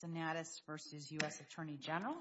Senatus v. U.S. Attorney General We're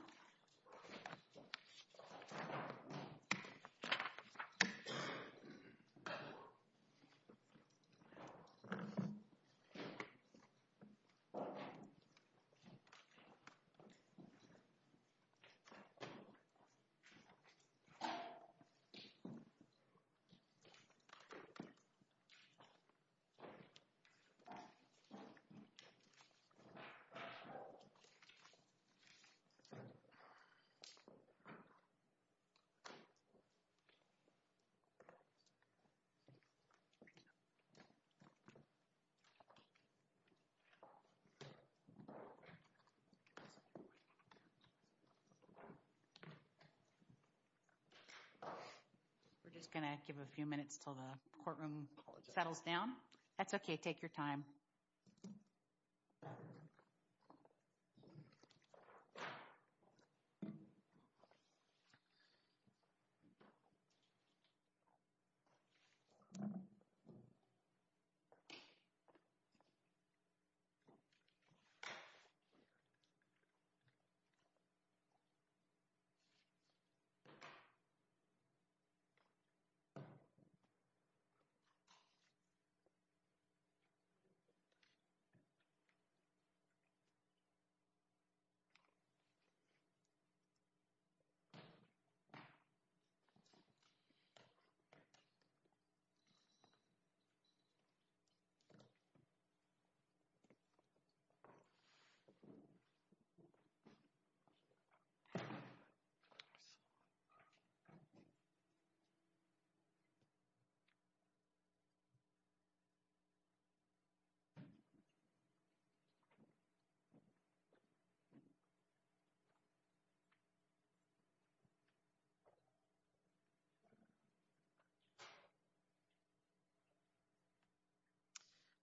just going to give a few minutes until the courtroom settles down. That's okay. Take your time.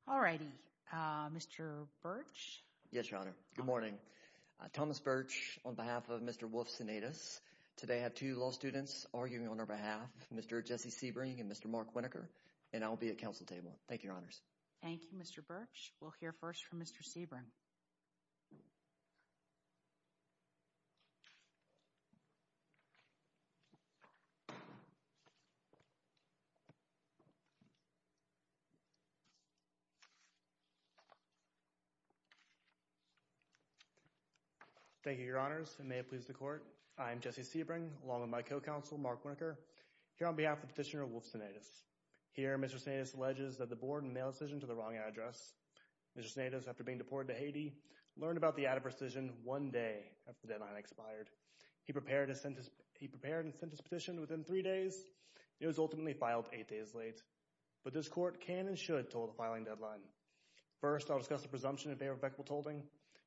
All righty. Mr. Birch? Yes, Your Honor. Good morning. Thomas Birch on behalf of Mr. Woff Senatus. Today I have two law students arguing on our behalf, Mr. Jesse Sebring and Mr. Mark Winokur, and I'll be at counsel table. Thank you, Your Honors. Thank you, Mr. Birch. We'll hear first from Mr. Sebring. Thank you, Your Honors. And may it please the Court, I am Jesse Sebring along with my co-counsel, Mark Winokur, here on behalf of Petitioner Woff Senatus. Here Mr. Senatus alleges that the board made a decision to the wrong address. Mr. Senatus, after being deported to Haiti, learned about the adverse decision one day after the deadline expired. He prepared and sent his petition within three days. It was ultimately filed eight days late. But this Court can and should toll the filing deadline. First, I'll discuss the presumption of irrevocable tolling,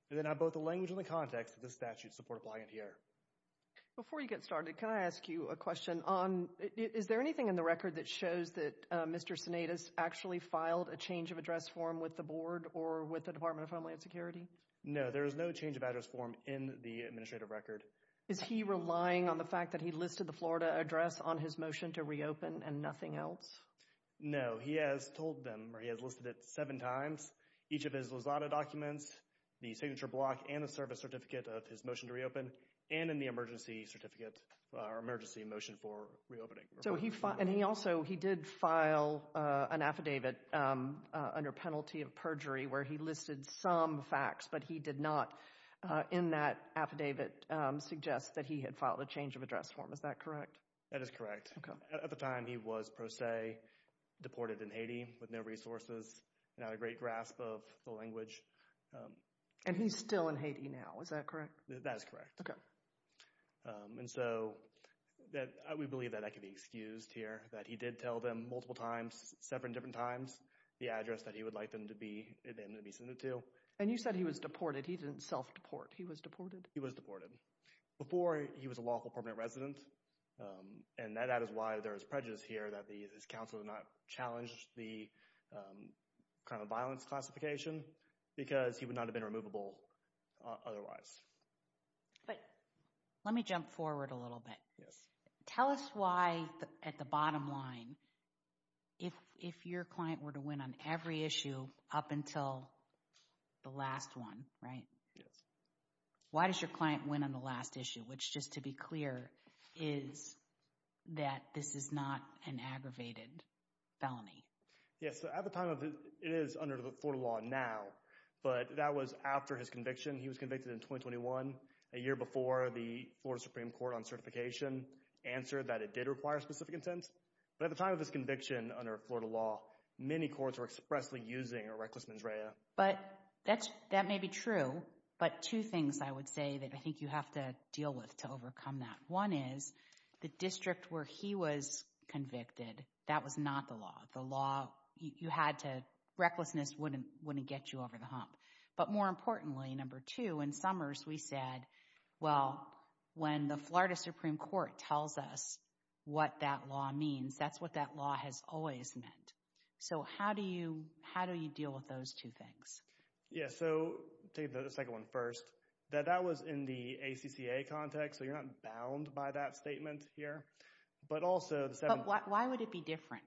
and then I'll have both the language and the context of this statute's support applying here. Before you get started, can I ask you a question on, is there anything in the record that shows that Mr. Senatus actually filed a change of address form with the board or with the Department of Homeland Security? No, there is no change of address form in the administrative record. Is he relying on the fact that he listed the Florida address on his motion to reopen and nothing else? No, he has told them, or he has listed it seven times, each of his Lozada documents, the signature block, and the service certificate of his motion to reopen, and in the emergency motion for reopening. And he also, he did file an affidavit under penalty of perjury where he listed some facts, but he did not in that affidavit suggest that he had filed a change of address form. Is that correct? That is correct. At the time, he was pro se deported in Haiti with no resources and not a great grasp of the language. And he's still in Haiti now. Is that correct? That is correct. Okay. And so, we believe that that can be excused here, that he did tell them multiple times, seven different times, the address that he would like them to be, them to be submitted to. And you said he was deported. He didn't self-deport. He was deported? He was deported. Before, he was a lawful permanent resident, and that is why there is prejudice here that his counsel did not challenge the crime of violence classification because he would not have been removable otherwise. But let me jump forward a little bit. Tell us why, at the bottom line, if your client were to win on every issue up until the last one, right? Yes. Why does your client win on the last issue, which, just to be clear, is that this is not an aggravated felony? Yes. At the time, it is under the Florida law now, but that was after his conviction. He was convicted in 2021, a year before the Florida Supreme Court on certification answered that it did require specific intent. But at the time of his conviction under Florida law, many courts were expressly using a reckless mens rea. But that may be true, but two things I would say that I think you have to deal with to overcome that. One is, the district where he was convicted, that was not the law. The law, you had to, recklessness wouldn't get you over the hump. But more importantly, number two, in Summers, we said, well, when the Florida Supreme Court tells us what that law means, that's what that law has always meant. So, how do you deal with those two things? Yes. So, take the second one first. That was in the ACCA context, so you're not bound by that statement here. But also, the seven... But why would it be different?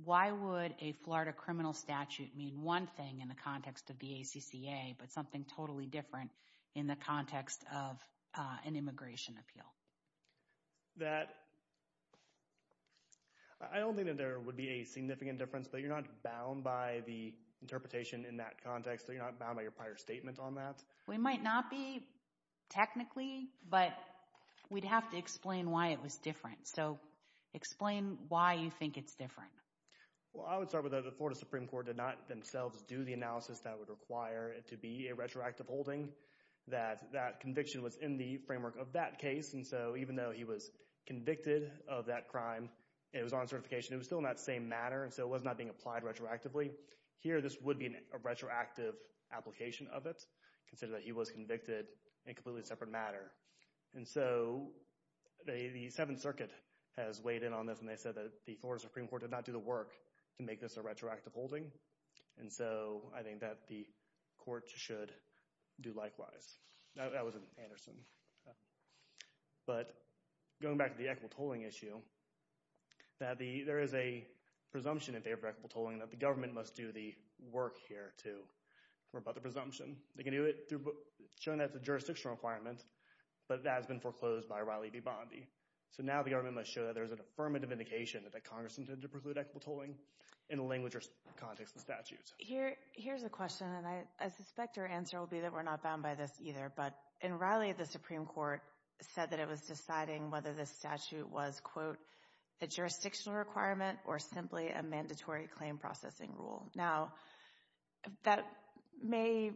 Why would a Florida criminal statute mean one thing in the context of the ACCA, but something totally different in the context of an immigration appeal? I don't think that there would be a significant difference, but you're not bound by the interpretation in that context. You're not bound by your prior statement on that. We might not be, technically, but we'd have to explain why it was different. So, explain why you think it's different. Well, I would start with that the Florida Supreme Court did not themselves do the analysis that would require it to be a retroactive holding, that that conviction was in the framework of that case. And so, even though he was convicted of that crime, it was on certification, it was still in that same matter, and so it was not being applied retroactively. Here, this would be a retroactive application of it, considering that he was convicted in a completely separate matter. And so, the Seventh Circuit has weighed in on this, and they said that the Florida Supreme Court did not do the work to make this a retroactive holding. And so, I think that the court should do likewise. That was in Anderson. But, going back to the equitable tolling issue, that there is a presumption in favor of equitable tolling that the government must do the work here to rebut the presumption. They can do it, shown as a jurisdictional requirement, but that has been foreclosed by Riley v. Bondi. So, now the government must show that there is an affirmative indication that the Congress intended to preclude equitable tolling in the language or context of the statutes. Here's a question, and I suspect your answer will be that we're not bound by this either, but in Riley, the Supreme Court said that it was deciding whether this statute was, quote, a jurisdictional requirement or simply a mandatory claim processing rule. Now, that may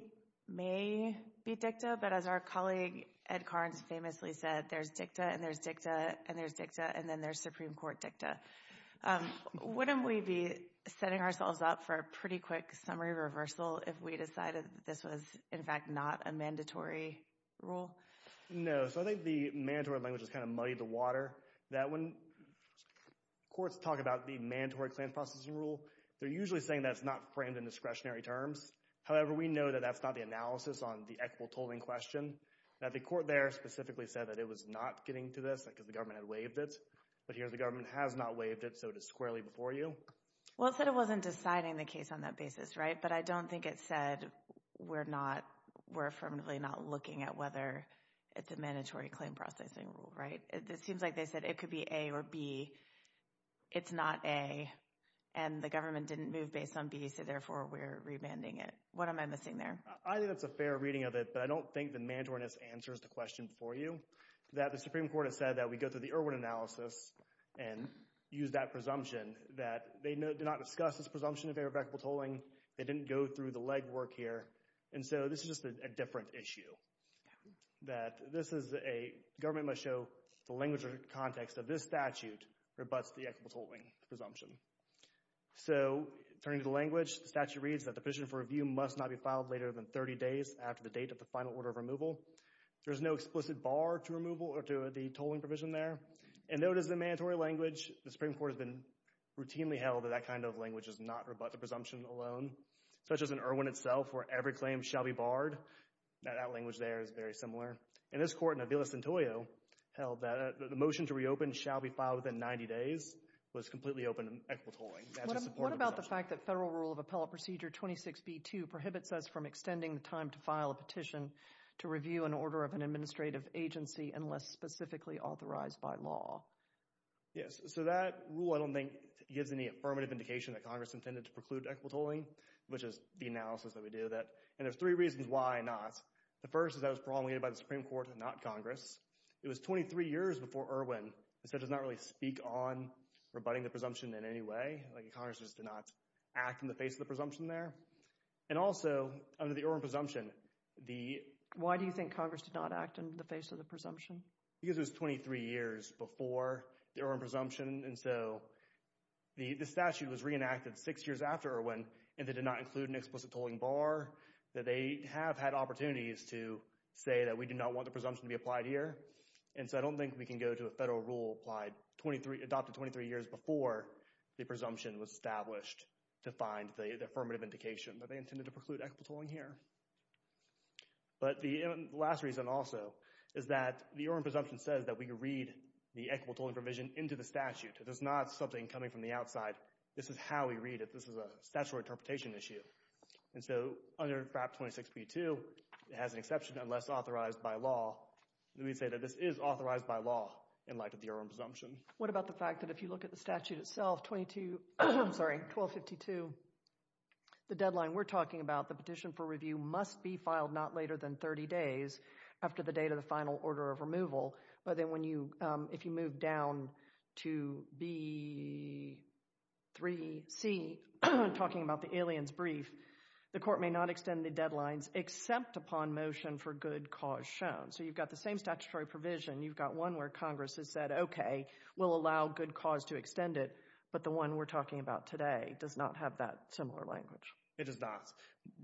be dicta, but as our colleague Ed Carnes famously said, there's dicta, and there's dicta, and there's dicta, and then there's Supreme Court dicta. Wouldn't we be setting ourselves up for a pretty quick summary reversal if we decided that this was, in fact, not a mandatory rule? No. So, I think the mandatory language has kind of muddied the water. That when courts talk about the mandatory claim processing rule, they're usually saying that it's not framed in discretionary terms. However, we know that that's not the analysis on the equitable tolling question. Now, the court there specifically said that it was not getting to this because the government had waived it, but here the government has not waived it, so it is squarely before you. Well, it said it wasn't deciding the case on that basis, right? But I don't think it said we're not, we're affirmatively not looking at whether it's a mandatory claim processing rule, right? It seems like they said it could be A or B. It's not A, and the government didn't move based on B, so therefore we're rebanding it. What am I missing there? I think that's a fair reading of it, but I don't think the mandatoryness answers the question for you. That the Supreme Court has said that we go through the Irwin analysis and use that presumption that they did not discuss this presumption of irrevocable tolling, they didn't go through the legwork here, and so this is just a different issue. That this is a, the government must show the language or context of this statute rebutts the equitable tolling presumption. So, turning to the language, the statute reads that the position for review must not be filed later than 30 days after the date of the final order of removal. There's no explicit bar to removal or to the tolling provision there. And though it is a mandatory language, the Supreme Court has been routinely held that that kind of language does not rebut the presumption alone, such as in Irwin itself where every language there is very similar. And this court in Avila-Santoyo held that the motion to reopen shall be filed within 90 days was completely open to equitable tolling. What about the fact that federal rule of appellate procedure 26B2 prohibits us from extending the time to file a petition to review an order of an administrative agency unless specifically authorized by law? Yes, so that rule I don't think gives any affirmative indication that Congress intended to preclude equitable tolling, which is the analysis that we do. And there's three reasons why not. The first is that it was promulgated by the Supreme Court and not Congress. It was 23 years before Irwin, so it does not really speak on rebutting the presumption in any way. Like, Congress just did not act in the face of the presumption there. And also, under the Irwin presumption, the... Why do you think Congress did not act in the face of the presumption? Because it was 23 years before the Irwin presumption, and so the statute was reenacted six years after Irwin, and they did not include an explicit tolling bar. They have had opportunities to say that we do not want the presumption to be applied here, and so I don't think we can go to a federal rule applied 23... Adopted 23 years before the presumption was established to find the affirmative indication that they intended to preclude equitable tolling here. But the last reason also is that the Irwin presumption says that we read the equitable tolling provision into the statute. It is not something coming from the outside. This is how we read it. This is a statutory interpretation issue. And so, under FAP 26B2, it has an exception unless authorized by law. We say that this is authorized by law in light of the Irwin presumption. What about the fact that if you look at the statute itself, 22... I'm sorry, 1252, the deadline we're talking about, the petition for review must be filed not later than 30 days after the date of the final order of removal. But then if you move down to B3C, talking about the aliens brief, the court may not extend the deadlines except upon motion for good cause shown. So you've got the same statutory provision. You've got one where Congress has said, okay, we'll allow good cause to extend it, but the one we're talking about today does not have that similar language. It does not.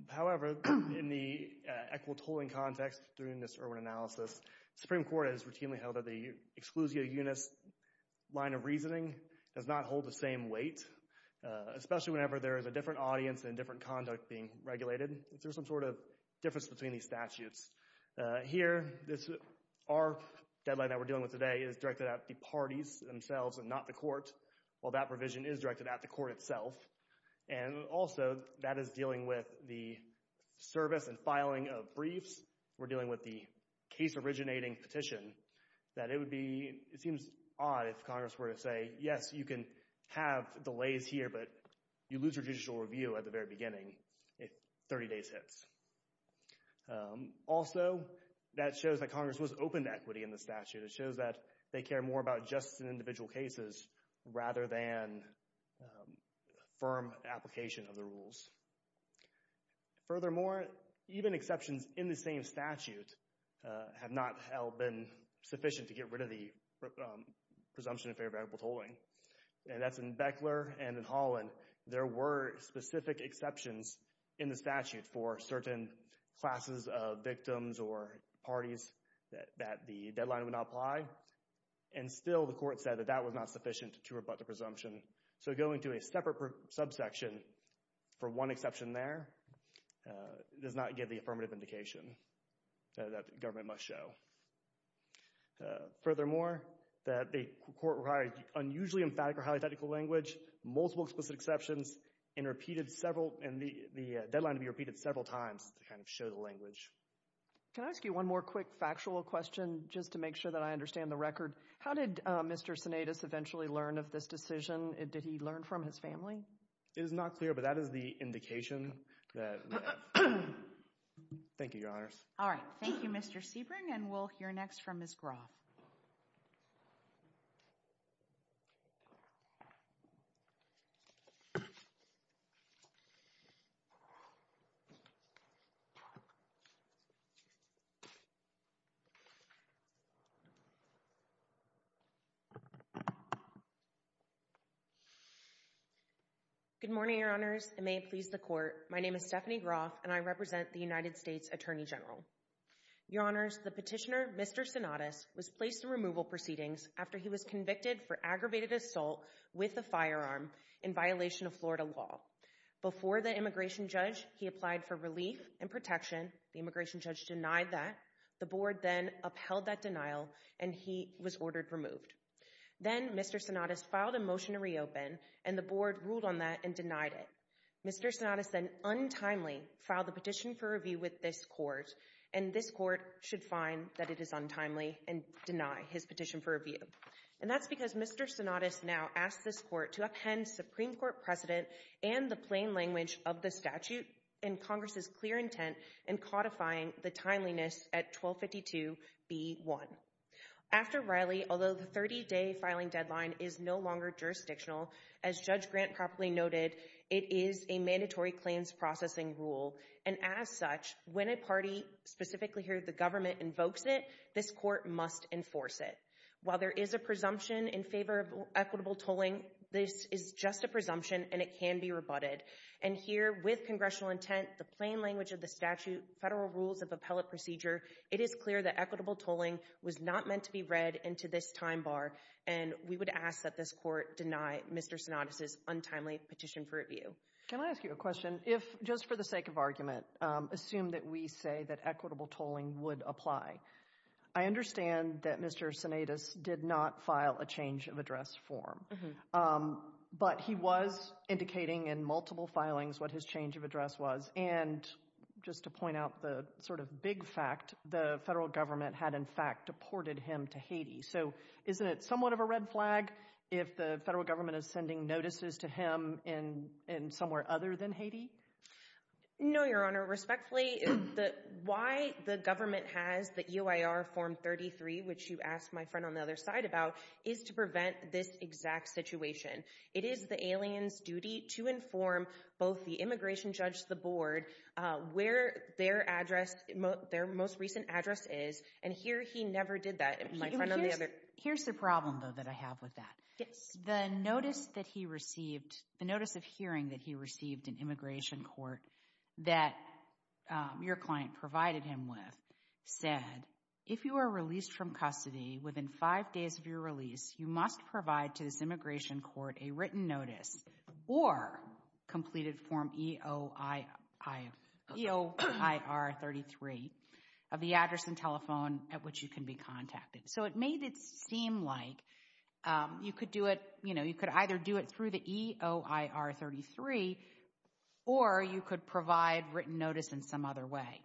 However, in the equitable tolling context during this Irwin analysis, the Supreme Court has routinely held that the exclusio unis line of reasoning does not hold the same weight, especially whenever there is a different audience and different conduct being regulated. Is there some sort of difference between these statutes? Here, our deadline that we're dealing with today is directed at the parties themselves and not the court, while that provision is directed at the court itself. And also, that is dealing with the service and filing of briefs. We're dealing with the case originating petition that it would be, it seems odd if Congress were to say, yes, you can have delays here, but you lose your judicial review at the very beginning if 30 days hits. Also, that shows that Congress was open to equity in the statute. It shows that they care more about justice in individual cases rather than firm application of the rules. Furthermore, even exceptions in the same statute have not been sufficient to get rid of the presumption of fair and equitable tolling. And that's in Beckler and in Holland. There were specific exceptions in the statute for certain classes of victims or parties that the deadline would not apply, and still the court said that that was not sufficient to rebut the presumption. So going to a separate subsection for one exception there does not give the affirmative indication that the government must show. Furthermore, the court required unusually emphatic or highly technical language, multiple explicit exceptions, and the deadline to be repeated several times to kind of show the language. Can I ask you one more quick factual question just to make sure that I understand the record? How did Mr. Sinaitis eventually learn of this decision? Did he learn from his family? It is not clear, but that is the indication that we have. Thank you, Your Honors. All right. Thank you, Mr. Sebring, and we'll hear next from Ms. Groff. Good morning, Your Honors. It may please the court. My name is Stephanie Groff, and I represent the United States Attorney General. Your Honors, the petitioner, Mr. Sinaitis, was placed in removal proceedings after he was convicted for aggravated assault with a firearm in violation of Florida law. Before the immigration judge, he applied for relief and protection. The immigration judge denied that. The board then upheld that denial, and he was ordered removed. Then Mr. Sinaitis filed a motion to reopen, and the board ruled on that and denied it. Mr. Sinaitis then untimely filed a petition for review with this court, and this court should find that it is untimely and deny his petition for review. And that's because Mr. Sinaitis now asks this court to uphand Supreme Court precedent and the plain language of the statute in Congress's clear intent in codifying the timeliness at 1252b1. After Riley, although the 30-day filing deadline is no longer jurisdictional, as Judge Grant properly noted, it is a mandatory claims processing rule, and as such, when a party, specifically here the government, invokes it, this court must enforce it. While there is a presumption in favor of equitable tolling, this is just a presumption, and it can be rebutted. And here, with congressional intent, the plain language of the statute, federal rules of appellate procedure, it is clear that equitable tolling was not meant to be read into this time bar, and we would ask that this court deny Mr. Sinaitis's untimely petition for review. Can I ask you a question? If, just for the sake of argument, assume that we say that equitable tolling would apply, I understand that Mr. Sinaitis did not file a change of address form, but he was indicating in multiple filings what his change of address was, and just to point out the sort of big fact, the federal government had, in fact, deported him to Haiti. So isn't it somewhat of a red flag if the federal government is sending notices to him in somewhere other than Haiti? No, Your Honor. Respectfully, why the government has the UIR Form 33, which you asked my friend on the other side about, is to prevent this exact situation. It is the alien's duty to inform both the immigration judge, the board, where their address, their most recent address is, and here he never did that, my friend on the other. Here's the problem, though, that I have with that. Yes. The notice that he received, the notice of hearing that he received in immigration court that your client provided him with said, if you are released from custody within five days of your release, you must provide to this immigration court a written notice or completed Form EOIR 33 of the address and telephone at which you can be contacted. So it made it seem like you could do it, you know, you could either do it through the EOIR 33 or you could provide written notice in some other way.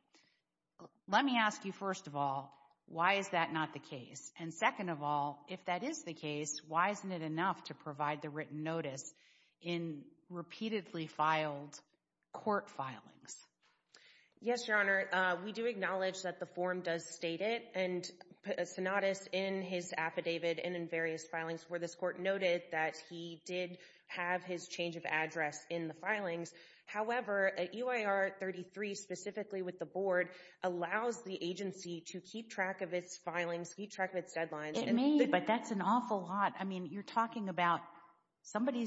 Let me ask you, first of all, why is that not the case? And second of all, if that is the case, why isn't it enough to provide the written notice in repeatedly filed court filings? Yes, Your Honor. We do acknowledge that the form does state it, and a synodous in his affidavit and in various filings where this court noted that he did have his change of address in the filings. However, EOIR 33, specifically with the board, allows the agency to keep track of its filings, keep track of its deadlines. It may, but that's an awful lot. I mean, you're talking about somebody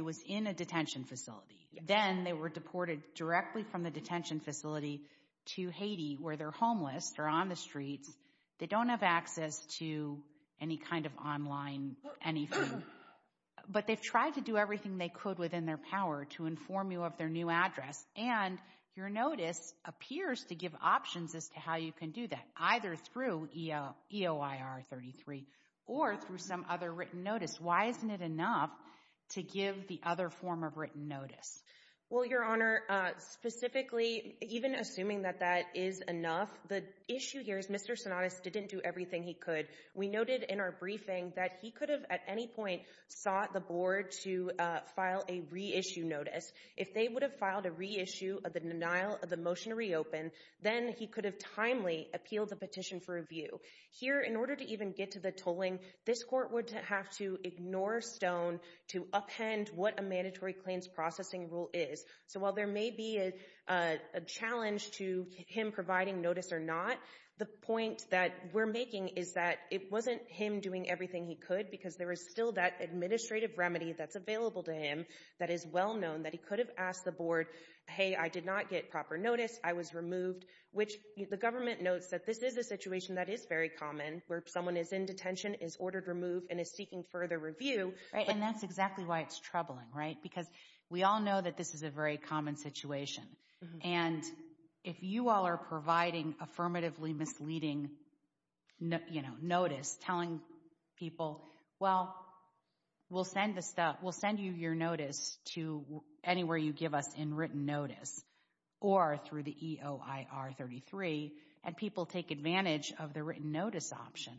was in a detention facility. Then they were deported directly from the detention facility to Haiti where they're homeless, they're on the streets. They don't have access to any kind of online anything. But they've tried to do everything they could within their power to inform you of their new address, and your notice appears to give options as to how you can do that, either through EOIR 33 or through some other written notice. Why isn't it enough to give the other form of written notice? Well, Your Honor, specifically, even assuming that that is enough, the issue here is Mr. Synodous didn't do everything he could. We noted in our briefing that he could have at any point sought the board to file a reissue notice. If they would have filed a reissue of the denial of the motion to reopen, then he could have timely appealed the petition for review. Here, in order to even get to the tolling, this court would have to ignore Stone to append what a mandatory claims processing rule is. So while there may be a challenge to him providing notice or not, the point that we're making is that it wasn't him doing everything he could because there is still that administrative remedy that's available to him that is well known that he could have asked the board, hey, I did not get proper notice, I was removed, which the government notes that this is a situation that is very common where someone is in detention, is ordered removed, and is seeking further review. And that's exactly why it's troubling, right? Because we all know that this is a very common situation. And if you all are providing affirmatively misleading notice, telling people, well, we'll send you your notice to anywhere you give us in written notice, or through the EOIR 33, and people take advantage of the written notice option,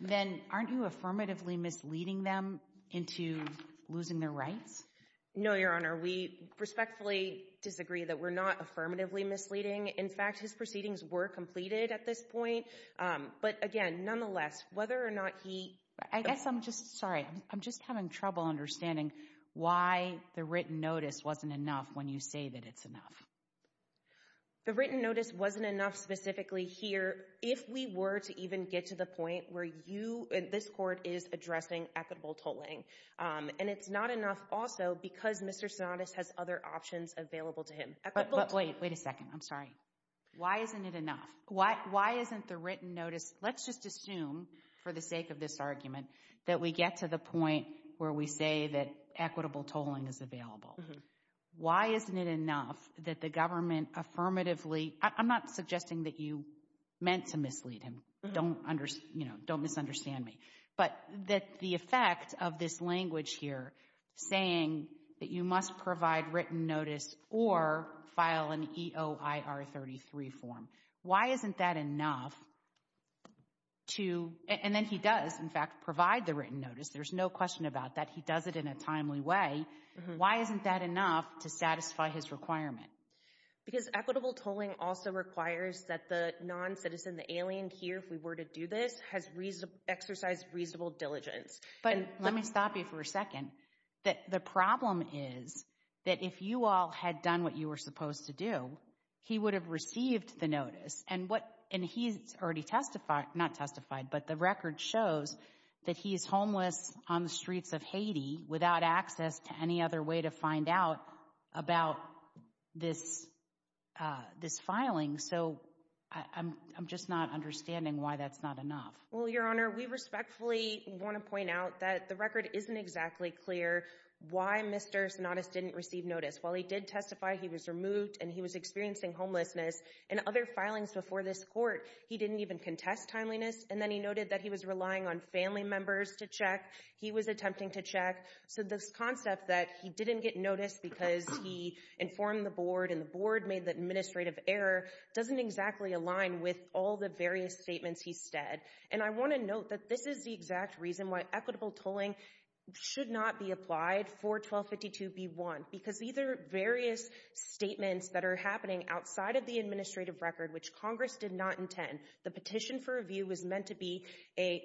then aren't you affirmatively misleading them into losing their rights? No, Your Honor. We respectfully disagree that we're not affirmatively misleading. In fact, his proceedings were completed at this point. But, again, nonetheless, whether or not he – I guess I'm just – sorry, I'm just having trouble understanding why the written notice wasn't enough when you say that it's enough. The written notice wasn't enough specifically here if we were to even get to the point where you – this court is addressing equitable tolling. And it's not enough also because Mr. Sonatus has other options available to him. But wait, wait a second. I'm sorry. Why isn't it enough? Why isn't the written notice – let's just assume, for the sake of this argument, that we get to the point where we say that equitable tolling is available. Why isn't it enough that the government affirmatively – I'm not suggesting that you meant to mislead him. Don't misunderstand me. But the effect of this language here saying that you must provide written notice or file an EOIR-33 form, why isn't that enough to – and then he does, in fact, provide the written notice. There's no question about that. He does it in a timely way. Why isn't that enough to satisfy his requirement? Because equitable tolling also requires that the non-citizen, the alien here, if we were to do this, has exercised reasonable diligence. But let me stop you for a second. The problem is that if you all had done what you were supposed to do, he would have received the notice, and he's already testified – not testified, but the record shows that he's homeless on the streets of Haiti without access to any other way to find out about this filing. So I'm just not understanding why that's not enough. Well, Your Honor, we respectfully want to point out that the record isn't exactly clear why Mr. Sonatus didn't receive notice. While he did testify, he was removed, and he was experiencing homelessness. In other filings before this Court, he didn't even contest timeliness. And then he noted that he was relying on family members to check. He was attempting to check. So this concept that he didn't get notice because he informed the board and the board made the administrative error doesn't exactly align with all the various statements he said. And I want to note that this is the exact reason why equitable tolling should not be applied for 1252b1, because these are various statements that are happening outside of the administrative record, which Congress did not intend. The petition for review was meant to be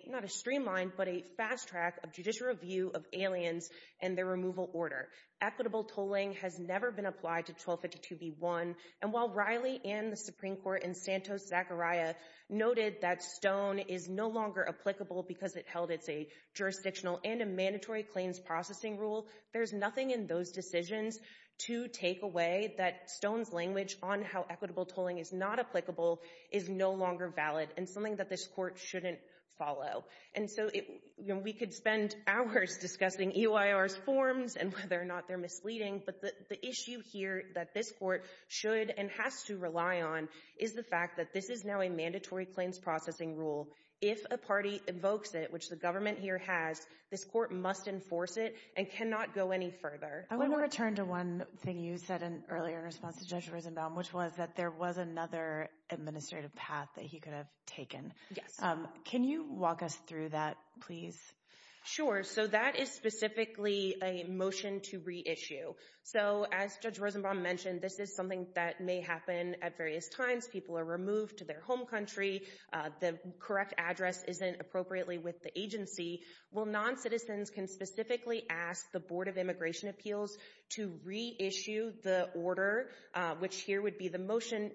not a streamlined, but a fast track of judicial review of aliens and their removal order. Equitable tolling has never been applied to 1252b1. And while Riley and the Supreme Court in Santos-Zachariah noted that Stone is no longer applicable because it held it's a jurisdictional and a mandatory claims processing rule, there's nothing in those decisions to take away that Stone's language on how equitable tolling is not applicable is no longer valid and something that this Court shouldn't follow. And so we could spend hours discussing EYR's forms and whether or not they're misleading, but the issue here that this Court should and has to rely on is the fact that this is now a mandatory claims processing rule. If a party invokes it, which the government here has, this Court must enforce it and cannot go any further. I want to turn to one thing you said earlier in response to Judge Risenbaum, which was that there was another administrative path that he could have taken. Yes. Can you walk us through that, please? Sure. So that is specifically a motion to reissue. So as Judge Risenbaum mentioned, this is something that may happen at various times. People are removed to their home country. The correct address isn't appropriately with the agency. Well, non-citizens can specifically ask the Board of Immigration Appeals to reissue the order, which here would be the motion,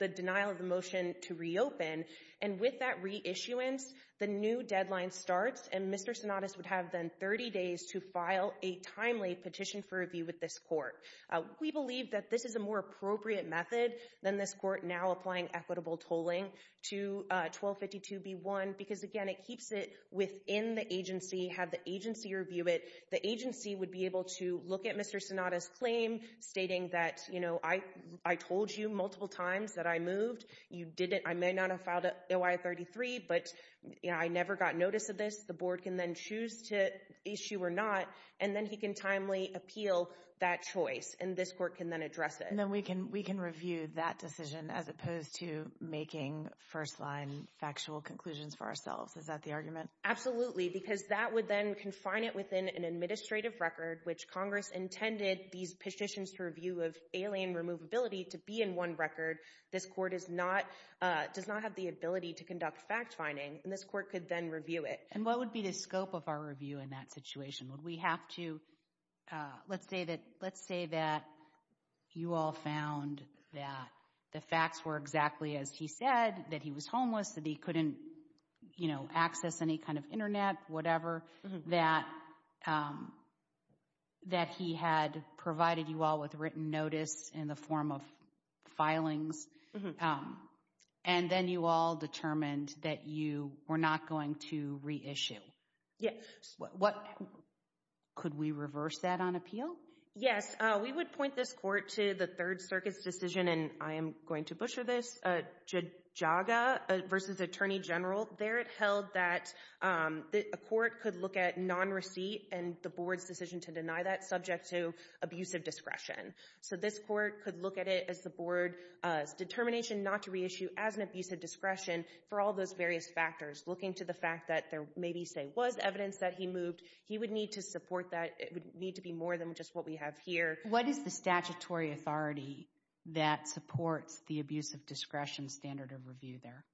the denial of the motion to reopen. And with that reissuance, the new deadline starts, and Mr. Sinatis would have then 30 days to file a timely petition for review with this Court. We believe that this is a more appropriate method than this Court now applying equitable tolling to 1252b1 because, again, it keeps it within the agency, have the agency review it. The agency would be able to look at Mr. Sinatis' claim stating that, you know, I told you multiple times that I moved. You didn't. I may not have filed OIA-33, but, you know, I never got notice of this. The Board can then choose to issue or not, and then he can timely appeal that choice, and this Court can then address it. And then we can review that decision as opposed to making first-line factual conclusions for ourselves. Is that the argument? Absolutely, because that would then confine it within an administrative record, which Congress intended these petitions to review of alien removability to be in one record. This Court does not have the ability to conduct fact-finding, and this Court could then review it. And what would be the scope of our review in that situation? Would we have to, let's say that you all found that the facts were exactly as he said, that he was homeless, that he couldn't, you know, that he had provided you all with written notice in the form of filings, and then you all determined that you were not going to reissue? Yes. Could we reverse that on appeal? Yes. We would point this Court to the Third Circuit's decision, and I am going to butcher this, JAGA versus Attorney General. There it held that a court could look at non-receipt and the Board's decision to deny that subject to abusive discretion. So this Court could look at it as the Board's determination not to reissue as an abusive discretion for all those various factors, looking to the fact that there maybe, say, was evidence that he moved. He would need to support that. It would need to be more than just what we have here. What is the statutory authority that supports the abusive discretion standard of review there?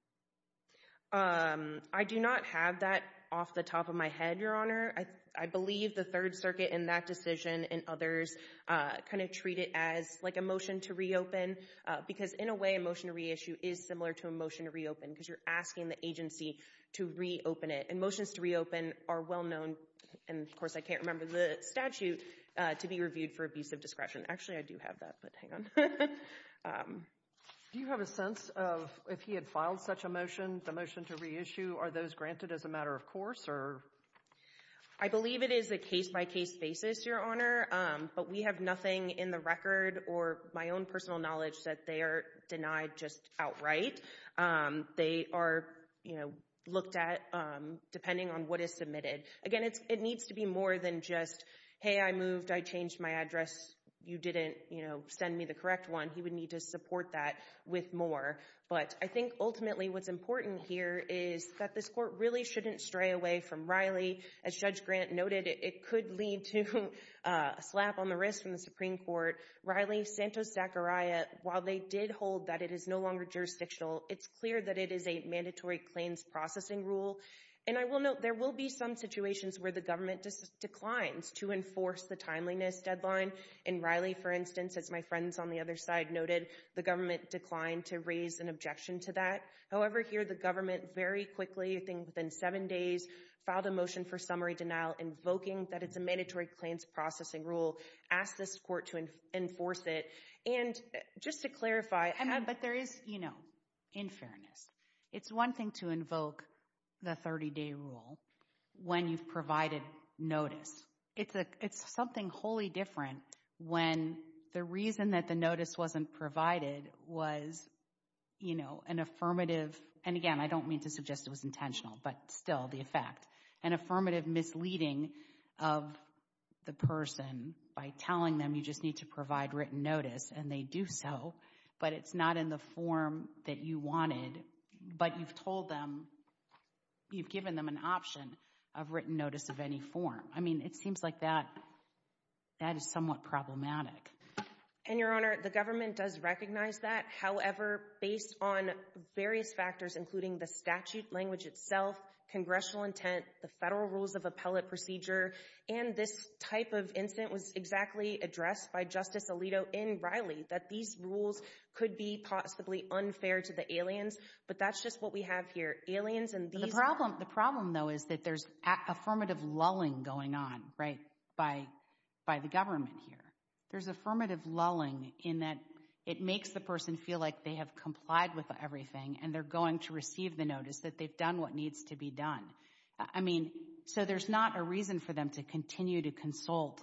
I do not have that off the top of my head, Your Honor. I believe the Third Circuit in that decision and others kind of treat it as, like, a motion to reopen, because in a way a motion to reissue is similar to a motion to reopen, because you're asking the agency to reopen it. And motions to reopen are well known, and of course I can't remember the statute, to be reviewed for abusive discretion. Actually, I do have that, but hang on. Do you have a sense of if he had filed such a motion, the motion to reissue, are those granted as a matter of course? I believe it is a case-by-case basis, Your Honor, but we have nothing in the record or my own personal knowledge that they are denied just outright. They are looked at depending on what is submitted. Again, it needs to be more than just, hey, I moved, I changed my address, you didn't send me the correct one. He would need to support that with more. But I think ultimately what's important here is that this court really shouldn't stray away from Riley. As Judge Grant noted, it could lead to a slap on the wrist from the Supreme Court. Riley, Santos-Zachariah, while they did hold that it is no longer jurisdictional, it's clear that it is a mandatory claims processing rule. And I will note there will be some situations where the government just declines to enforce the timeliness deadline. And Riley, for instance, as my friends on the other side noted, the government declined to raise an objection to that. However, here the government very quickly, I think within seven days, filed a motion for summary denial invoking that it's a mandatory claims processing rule, asked this court to enforce it. And just to clarify. But there is, you know, in fairness, it's one thing to invoke the 30-day rule when you've provided notice. It's something wholly different when the reason that the notice wasn't provided was, you know, an affirmative. And again, I don't mean to suggest it was intentional, but still, the effect. An affirmative misleading of the person by telling them you just need to provide written notice and they do so, but it's not in the form that you wanted. But you've told them, you've given them an option of written notice of any form. I mean, it seems like that is somewhat problematic. And, Your Honor, the government does recognize that. However, based on various factors, including the statute language itself, congressional intent, the federal rules of appellate procedure, and this type of incident was exactly addressed by Justice Alito in Riley, that these rules could be possibly unfair to the aliens. But that's just what we have here. The problem, though, is that there's affirmative lulling going on, right, by the government here. There's affirmative lulling in that it makes the person feel like they have complied with everything and they're going to receive the notice that they've done what needs to be done. I mean, so there's not a reason for them to continue to consult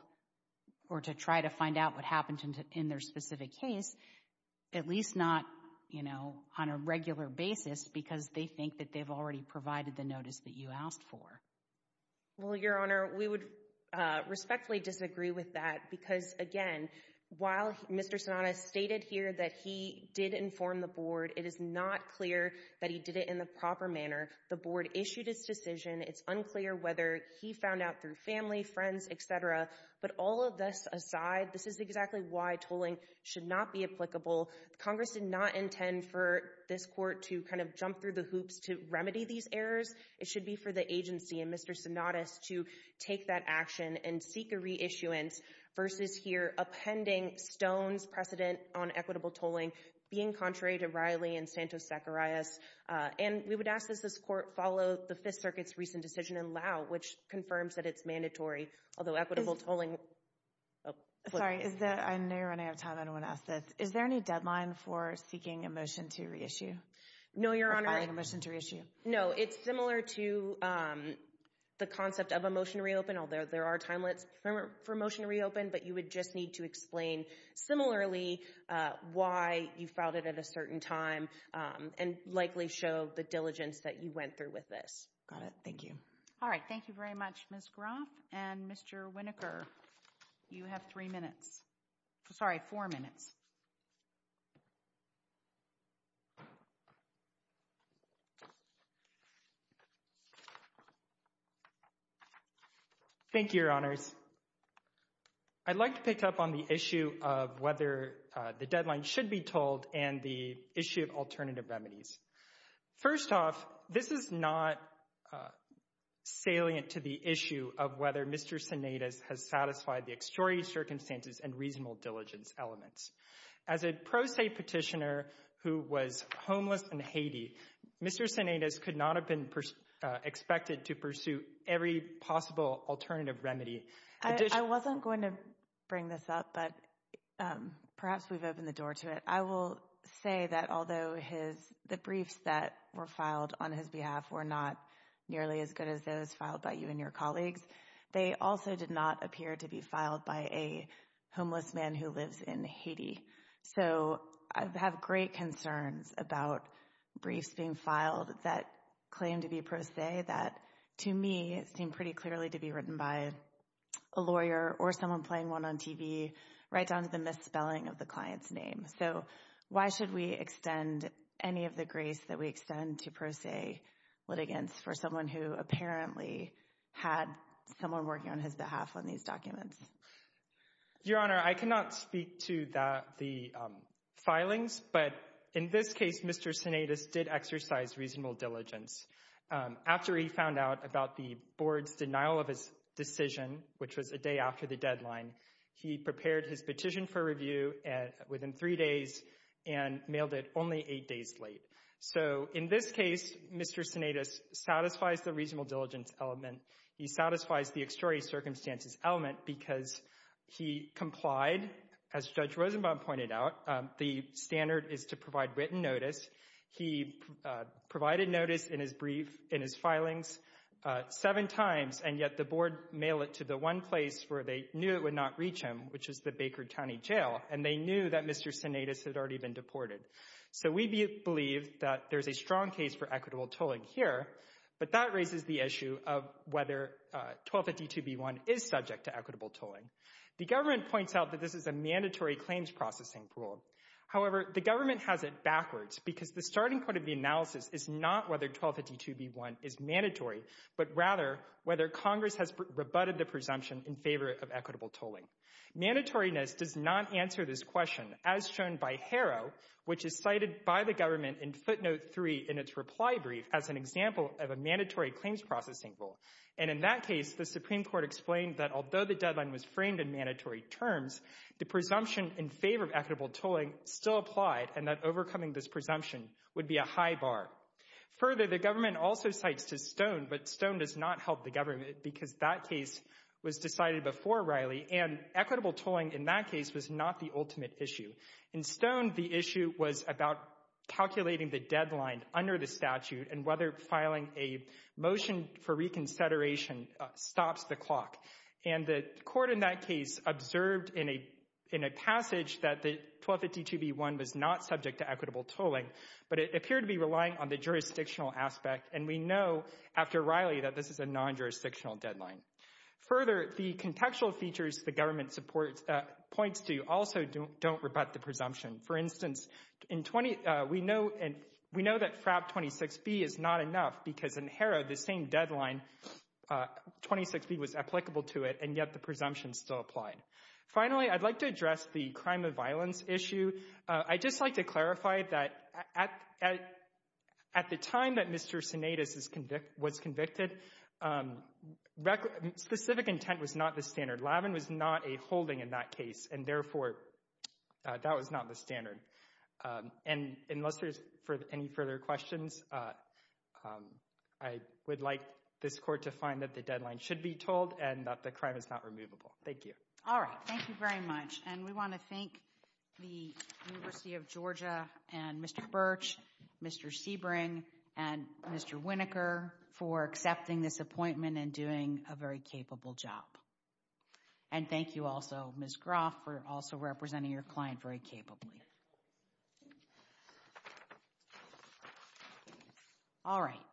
or to try to find out what happened in their specific case, at least not, you know, on a regular basis because they think that they've already provided the notice that you asked for. Well, Your Honor, we would respectfully disagree with that because, again, while Mr. Sonata stated here that he did inform the board, it is not clear that he did it in the proper manner. The board issued its decision. It's unclear whether he found out through family, friends, et cetera. But all of this aside, this is exactly why tolling should not be applicable. Congress did not intend for this court to kind of jump through the hoops to remedy these errors. It should be for the agency and Mr. Sonata to take that action and seek a reissuance versus here upending Stone's precedent on equitable tolling, being contrary to Riley and Santos-Zacharias. And we would ask that this court follow the Fifth Circuit's recent decision in Lau, which confirms that it's mandatory, although equitable tolling – Sorry, I know you're running out of time. I don't want to ask this. Is there any deadline for seeking a motion to reissue? No, Your Honor. Or filing a motion to reissue? No. It's similar to the concept of a motion to reopen, although there are timelets for a motion to reopen. But you would just need to explain similarly why you filed it at a certain time and likely show the diligence that you went through with this. Got it. Thank you. All right. Thank you very much, Ms. Groff. And, Mr. Winokur, you have three minutes. Sorry, four minutes. Thank you, Your Honors. I'd like to pick up on the issue of whether the deadline should be tolled and the issue of alternative remedies. First off, this is not salient to the issue of whether Mr. Sinaitis has satisfied the extraordinary circumstances and reasonable diligence elements. As a pro se petitioner who was homeless in Haiti, Mr. Sinaitis could not have been expected to pursue every possible alternative remedy. I wasn't going to bring this up, but perhaps we've opened the door to it. I will say that although the briefs that were filed on his behalf were not nearly as good as those filed by you and your colleagues, they also did not appear to be filed by a homeless man who lives in Haiti. So I have great concerns about briefs being filed that claim to be pro se, that to me seem pretty clearly to be written by a lawyer or someone playing one on TV right down to the misspelling of the client's name. So why should we extend any of the grace that we extend to pro se litigants for someone who apparently had someone working on his behalf on these documents? Your Honor, I cannot speak to the filings, but in this case Mr. Sinaitis did exercise reasonable diligence. After he found out about the board's denial of his decision, which was a day after the deadline, he prepared his petition for review within three days and mailed it only eight days late. So in this case, Mr. Sinaitis satisfies the reasonable diligence element. He satisfies the extraordinary circumstances element because he complied, as Judge Rosenbaum pointed out, the standard is to provide written notice. He provided notice in his brief, in his filings, seven times, and yet the board mailed it to the one place where they knew it would not reach him, which is the Baker County Jail, and they knew that Mr. Sinaitis had already been deported. So we believe that there's a strong case for equitable tolling here, but that raises the issue of whether 1252b1 is subject to equitable tolling. The government points out that this is a mandatory claims processing rule. However, the government has it backwards because the starting point of the analysis is not whether 1252b1 is mandatory, but rather whether Congress has rebutted the presumption in favor of equitable tolling. Mandatoriness does not answer this question, as shown by Harrow, which is cited by the government in footnote three in its reply brief as an example of a mandatory claims processing rule. And in that case, the Supreme Court explained that although the deadline was framed in mandatory terms, the presumption in favor of equitable tolling still applied and that overcoming this presumption would be a high bar. Further, the government also cites Stone, but Stone does not help the government because that case was decided before Riley, and equitable tolling in that case was not the ultimate issue. In Stone, the issue was about calculating the deadline under the statute and whether filing a motion for reconsideration stops the clock. And the court in that case observed in a passage that 1252b1 was not subject to equitable tolling, but it appeared to be relying on the jurisdictional aspect, and we know after Riley that this is a non-jurisdictional deadline. Further, the contextual features the government points to also don't rebut the presumption. For instance, we know that FRAP 26b is not enough because in Harrow, the same deadline, 26b, was applicable to it, and yet the presumption still applied. Finally, I'd like to address the crime of violence issue. I'd just like to clarify that at the time that Mr. Sinaitis was convicted, specific intent was not the standard. Lavin was not a holding in that case, and therefore that was not the standard. And unless there's any further questions, I would like this court to find that the deadline should be tolled and that the crime is not removable. Thank you. All right. Thank you very much. And we want to thank the University of Georgia and Mr. Birch, Mr. Sebring, and Mr. Winokur for accepting this appointment and doing a very capable job. And thank you also, Ms. Groff, for also representing your client very capably. All right.